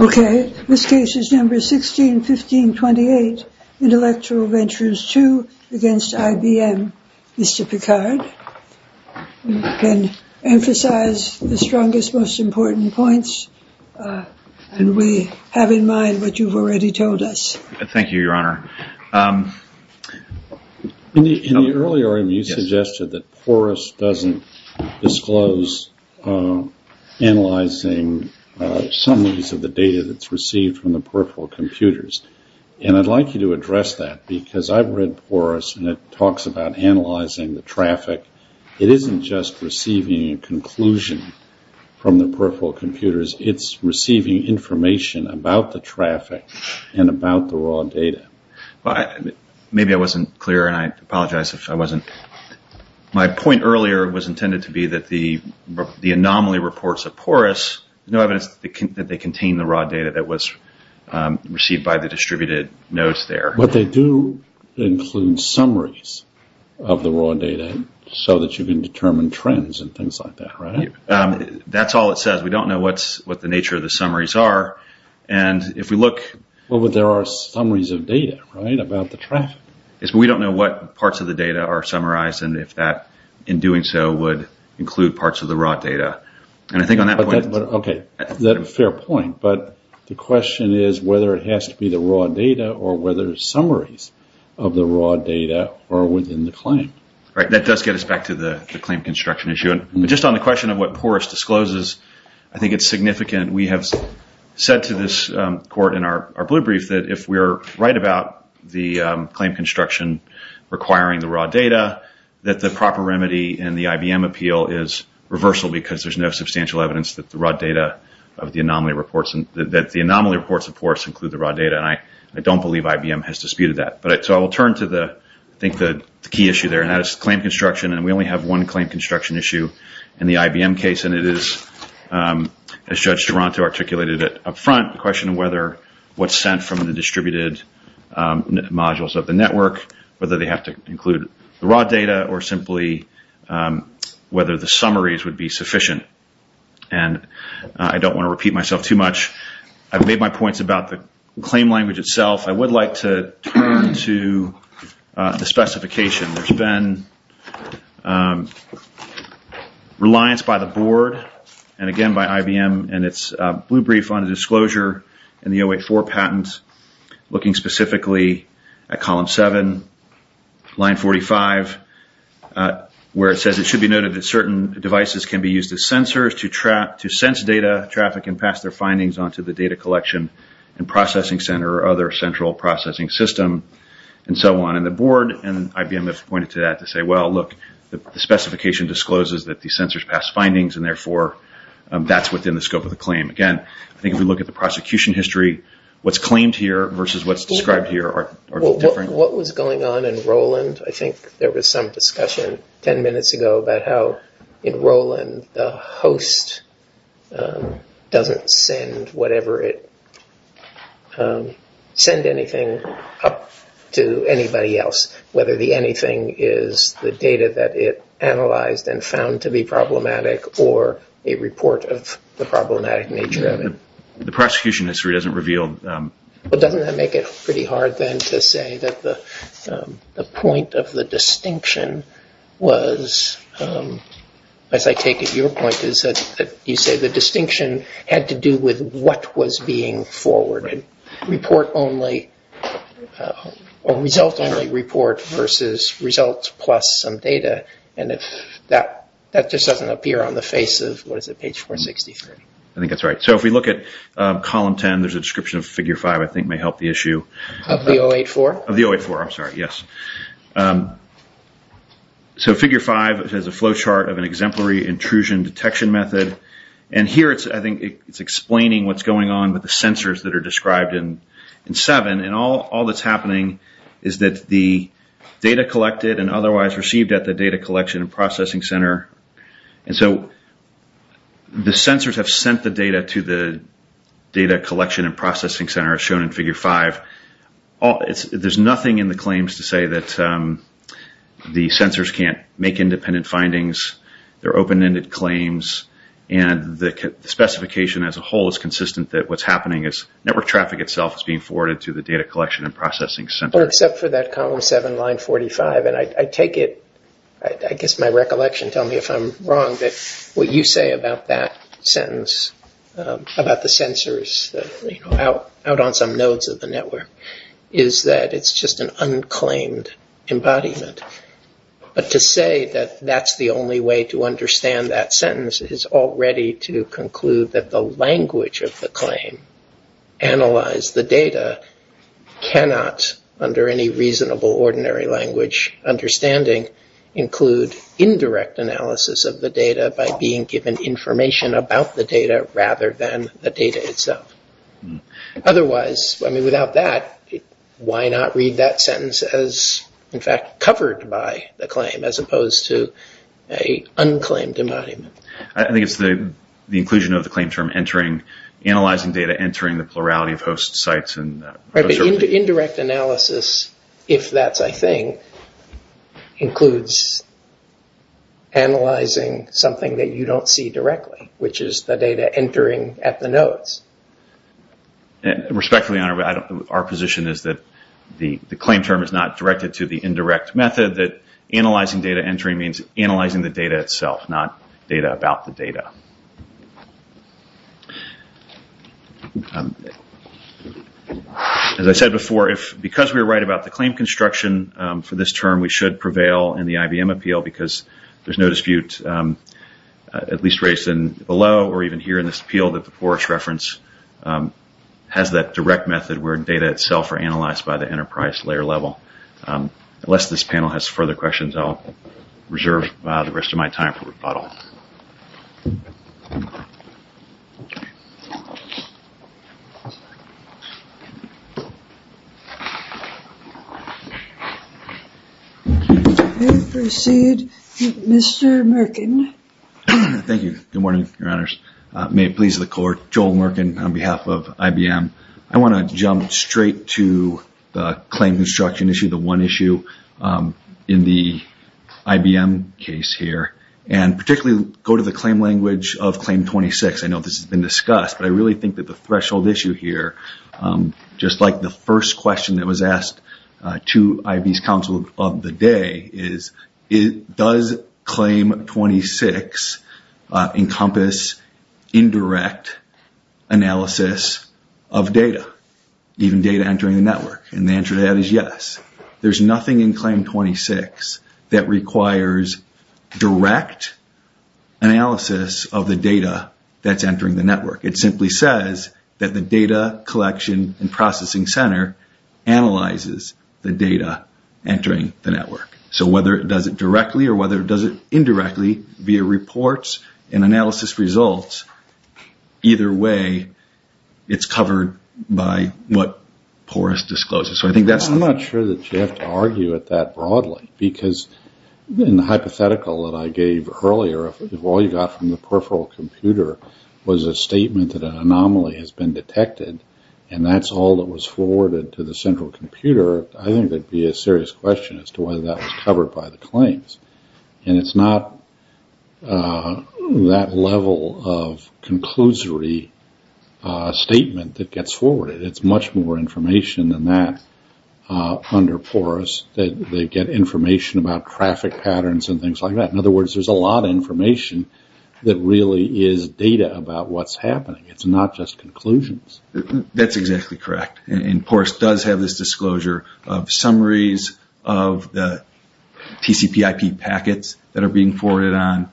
Okay, this case is number 161528, Intellectual Ventures II against IBM. Mr. Picard can emphasize the strongest most important points and we have in mind what you've already told us. Thank you, Your Honor. In the earlier argument you suggested that Porus doesn't disclose analyzing summaries of the data that's received from the peripheral computers and I'd like you to address that because I've read Porus and it talks about analyzing the traffic. It isn't just receiving a conclusion from the peripheral computers, it's receiving information about the traffic and about the raw data. Mr. Picard Maybe I wasn't clear and I apologize if I wasn't. My point earlier was intended to be that the anomaly reports of Porus, there's no evidence that they contain the raw data that was received by the peripherals. They do include summaries of the raw data so that you can determine trends and things like that, right? Mr. Cuthbert That's all it says. We don't know what the nature of the summaries are and if we look... Mr. Picard Well, there are summaries of data, right, about the traffic. Mr. Cuthbert Yes, but we don't know what parts of the data are summarized and if that in doing so would include parts of the raw data and I think on that point... Mr. Picard Okay, that's a fair point but the question is whether it has to be the raw data or whether summaries of the raw data are within the claim. Mr. Cuthbert Right, that does get us back to the claim construction issue. Just on the question of what Porus discloses, I think it's significant. We have said to this court in our blue brief that if we're right about the claim construction requiring the raw data that the proper remedy in the IBM appeal is reversal because there's no substantial evidence that the raw data of the anomaly reports and that the anomaly reports of Porus include the raw data and I don't believe IBM has disputed that. So I will turn to the, I think the key issue there and that is claim construction and we only have one claim construction issue in the IBM case and it is, as Judge Duranto articulated it up front, the question of whether what's sent from the distributed modules of the network, whether they have to include the raw data or simply whether the summaries would be sufficient and I don't want to repeat myself too much. I've made my points about the claim language itself. I would like to turn to the specification. There's been reliance by the board and again by IBM and its blue brief on the disclosure in the 084 patent looking specifically at column 7, line 45, where it says it should be noted that certain devices can be used as sensors to sense data traffic and pass their findings onto the data collection and processing center or other central processing system and so on. And the board and IBM have pointed to that to say, well, look, the specification discloses that the sensors pass findings and therefore that's within the scope of the claim. Again, I think if we look at the prosecution history, what's claimed here versus what's described here are different. What was going on in Roland? I think there was some discussion 10 minutes ago about how in Roland the host doesn't send whatever it, send anything up to anybody else, whether the anything is the data that it analyzed and found to be problematic or a report of the problematic nature of it. The prosecution history doesn't reveal. Well, doesn't that make it pretty hard then to say that the point of the distinction was, as I take it, your point is that you say the distinction had to do with what was being forwarded, report only or result only report versus results plus some data and that just doesn't appear on the face of, what is it, the case. If we look at column 10, there's a description of figure 5 I think may help the issue. Of the 084? Of the 084, I'm sorry, yes. So figure 5 has a flowchart of an exemplary intrusion detection method and here it's, I think, it's explaining what's going on with the sensors that are described in 7 and all that's happening is that the data collected and otherwise received at the data collection and processing center, and so the sensors have sent the data to the data collection and processing center shown in figure 5. There's nothing in the claims to say that the sensors can't make independent findings. They're open-ended claims and the specification as a whole is consistent that what's happening is network traffic itself is being forwarded to the data collection and processing center. Except for that column 7, line 45, and I take it, I guess my recollection, tell me if I'm wrong, that what you say about that sentence, about the sensors out on some nodes of the network, is that it's just an unclaimed embodiment. But to say that that's the only way to understand that sentence is already to conclude that the language of the claim, analyze the data, cannot, under any reasonable ordinary language understanding, include indirect analysis of the data by being given information about the data rather than the data itself. Otherwise, I mean, without that, why not read that sentence as, in fact, covered by the claim as opposed to a unclaimed embodiment? I think it's the inclusion of the claim term, entering, analyzing data, entering the plurality of host sites. Right, but indirect analysis, if that's a thing, includes analyzing something that you don't see directly, which is the data entering at the nodes. Respectfully, Your Honor, our position is that the claim term is not directed to the indirect method, that analyzing data entering means analyzing the data itself. As I said before, because we're right about the claim construction for this term, we should prevail in the IBM appeal because there's no dispute, at least raised below or even here in this appeal, that the PORES reference has that direct method where data itself are analyzed by the enterprise layer level. Unless this panel has further questions, I'll reserve the rest of my time for questions. We proceed with Mr. Merkin. Thank you. Good morning, Your Honors. May it please the Court, Joel Merkin on behalf of IBM. I want to jump straight to the claim construction issue, the one of claim 26. I know this has been discussed, but I really think that the threshold issue here, just like the first question that was asked to IB's counsel of the day is, does claim 26 encompass indirect analysis of data, even data entering the network? The answer to that is yes. There's nothing in claim 26 that requires direct analysis of the data that's entering the network. It simply says that the data collection and processing center analyzes the data entering the network. Whether it does it directly or whether it does it indirectly via reports and analysis results, either way, it's covered by what PORES discloses. I'm not sure that you have to argue at that level broadly because in the hypothetical that I gave earlier, if all you got from the peripheral computer was a statement that an anomaly has been detected and that's all that was forwarded to the central computer, I think that would be a serious question as to whether that was covered by the claims. It's not that level of conclusory statement that gets forwarded. It's much more information than that under PORES. They get information about traffic patterns and things like that. In other words, there's a lot of information that really is data about what's happening. It's not just conclusions. That's exactly correct. PORES does have this disclosure of summaries of the TCPIP packets that are being forwarded on.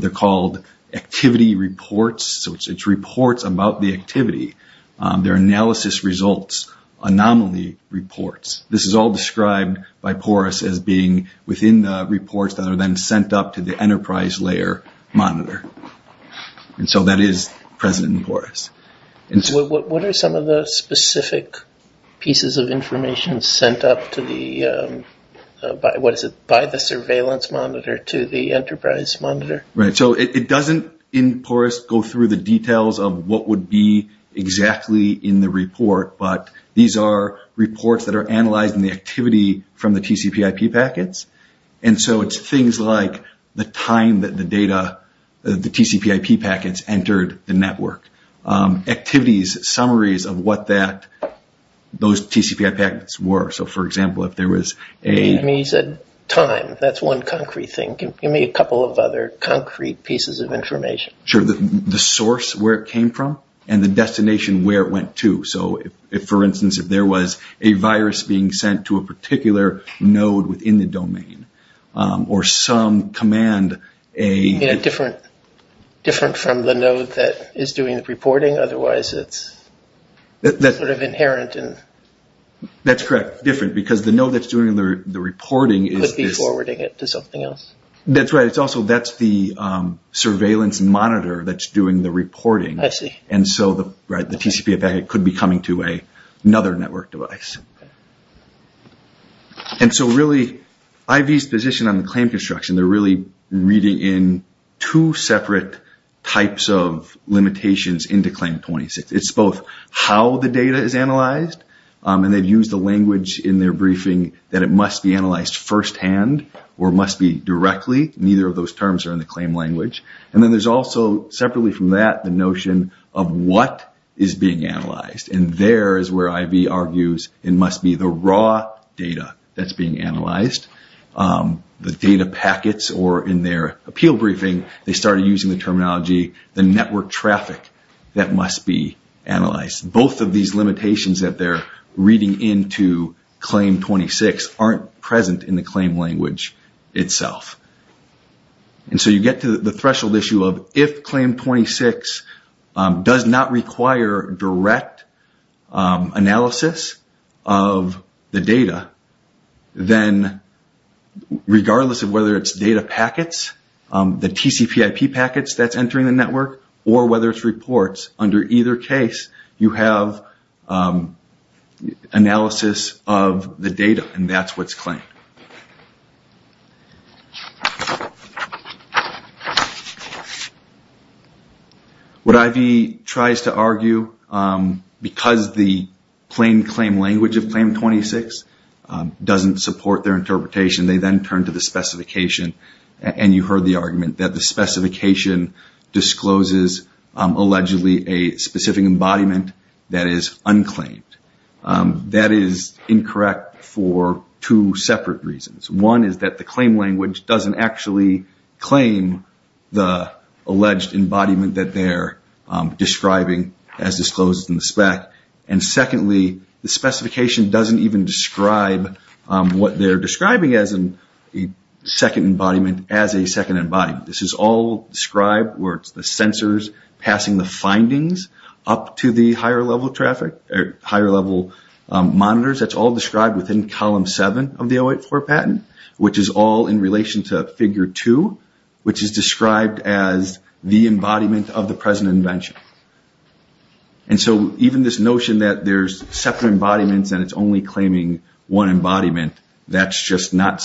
They're called activity reports. It's reports about the activity. They're analysis results, anomaly reports. This is all described by PORES as being within the reports that are then sent up to the enterprise layer monitor. That is present in PORES. What are some of the specific pieces of information sent up by the surveillance monitor to the enterprise monitor? It doesn't in PORES go through the details of what would be exactly in the report, but these are reports that are analyzed in the activity from the TCPIP packets. It's things like the time that the TCPIP packets entered the network. Activities, summaries of what those TCPIP packets were. For example, if there was a... You said time. That's one concrete thing. Give me a couple of other concrete pieces of information. Sure. The source where it came from and the destination where it went to. For instance, if there was a virus being sent to a particular node within the domain or some command... Different from the node that is doing the reporting, otherwise it's sort of inherent in... That's correct. Different, because the node that's doing the reporting is... Could be forwarding it to something else. That's right. Also, that's the surveillance monitor that's doing the reporting. I see. And so the TCPIP packet could be coming to another network device. And so really, IV's position on the claim construction, they're really reading in two separate types of limitations into Claim 26. It's both how the data is analyzed, and they've used the language in their briefing that it must be analyzed first-hand or must be directly. Neither of those terms are in the claim language. And then there's also, separately from that, the notion of what is being analyzed. And there is where IV argues in terms of what is and must be the raw data that's being analyzed. The data packets or in their appeal briefing, they started using the terminology, the network traffic that must be analyzed. Both of these limitations that they're reading into Claim 26 aren't present in the claim language itself. And so you get to the threshold issue of if Claim 26 does not require direct analysis of the data, then regardless of whether it's data packets, the TCPIP packets that's entering the network, or whether it's reports, under either case you have analysis of the data, and that's what's claimed. What IV tries to argue, because the plain claim language of Claim 26 doesn't support their interpretation, they then turn to the specification. And you heard the argument that the specification discloses allegedly a specific embodiment that is unclaimed. That is incorrect for two separate reasons. One is that the claim language doesn't actually claim the alleged embodiment that they're describing as disclosed in the spec. And secondly, the specification doesn't even describe what they're describing as a second embodiment as a second embodiment. This is all described where it's the sensors passing the findings up to the higher level monitors. That's all described within Column 7 of the 084 patent, which is all in relation to Figure 2, which is described as the embodiment of the present invention. And so even this notion that there's separate embodiments and it's only claiming one embodiment, that's just not the case.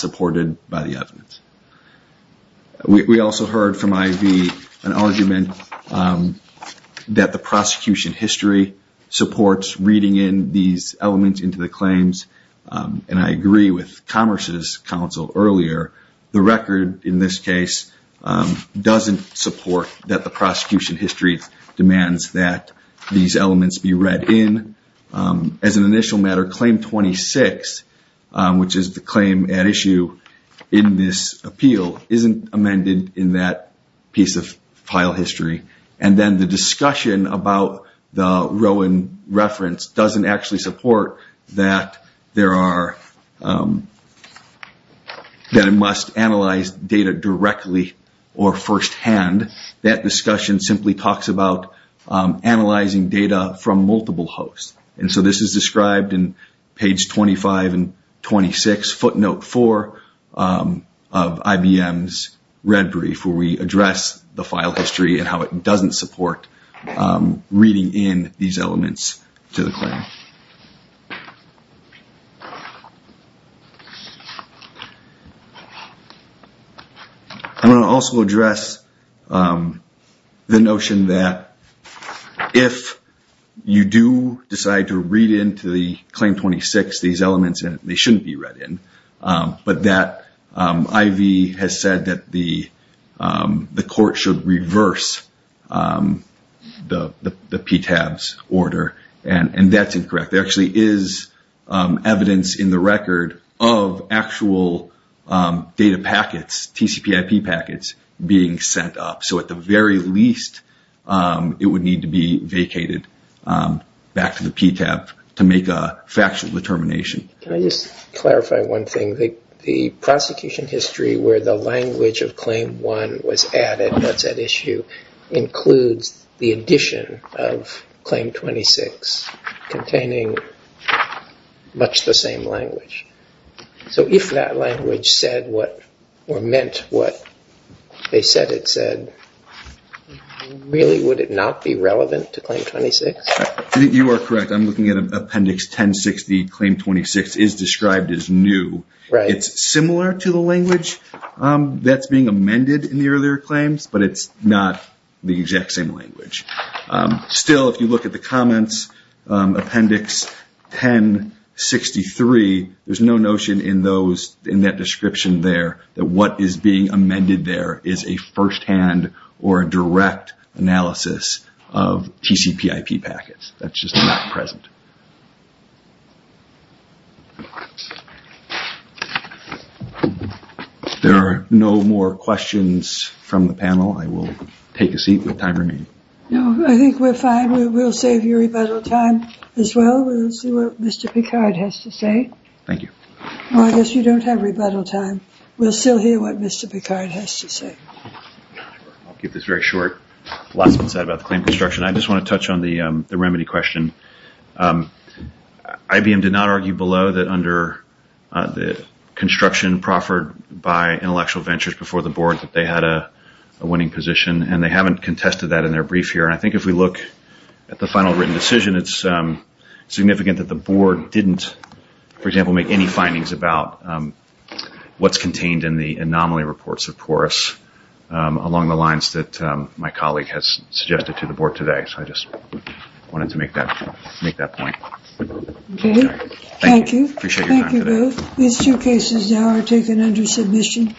The record in this case doesn't support that the prosecution history demands that these elements be read in. As an initial matter, Claim 26, which is the claim at issue in this appeal, isn't amended in that piece of Rowan reference doesn't actually support that it must analyze data directly or firsthand. That discussion simply talks about analyzing data from multiple hosts. And so this is described in Page 25 and 26, footnote 4, of IBM's red brief where we address the file history and how it doesn't support reading in these elements to the claim. I'm going to also address the notion that if you do decide to read into the Claim 26, these elements in it, they shouldn't be read in. But that IV has said that the court should reverse the PTAB's order, and that's incorrect. There actually is evidence in the record of actual data packets, TCPIP packets, being sent up. So at the very least, it would need to be vacated back to the PTAB to make a factual determination. Can I just clarify one thing? The prosecution history where the language of Claim 1 was added, what's at issue, includes the addition of Claim 26 containing much the same language. So if that language said what or meant what they said it said, really would it not be relevant to Claim 26? You are correct. I'm looking at Appendix 1060, Claim 26 is described as new. It's similar to the language that's being amended in the earlier claims, but it's not the exact same language. Still, if you look at the comments, Appendix 1063, there's no notion in that description there that what is being amended there is a first-hand or direct analysis of TCPIP packets. That's just not present. There are no more questions from the panel. I will take a seat with time remaining. No, I think we're fine. We'll save you rebuttal time as well. We'll see what Mr. Picard has to say. Thank you. Well, I guess we don't have rebuttal time. We'll still hear what Mr. Picard has to say. I'll keep this very short. Last one said about the claim construction. I just want to touch on the remedy question. IBM did not argue below that under the construction proffered by intellectual ventures before the board that they had a winning position, and they haven't contested that in their brief here. I think if we look at the final written decision, it's significant that the board didn't, for example, make any findings about what's contained in the anomaly reports of PORUS along the lines that my colleague has suggested to the board today. So I just wanted to make that point. Thank you. These two cases now are taken under submission.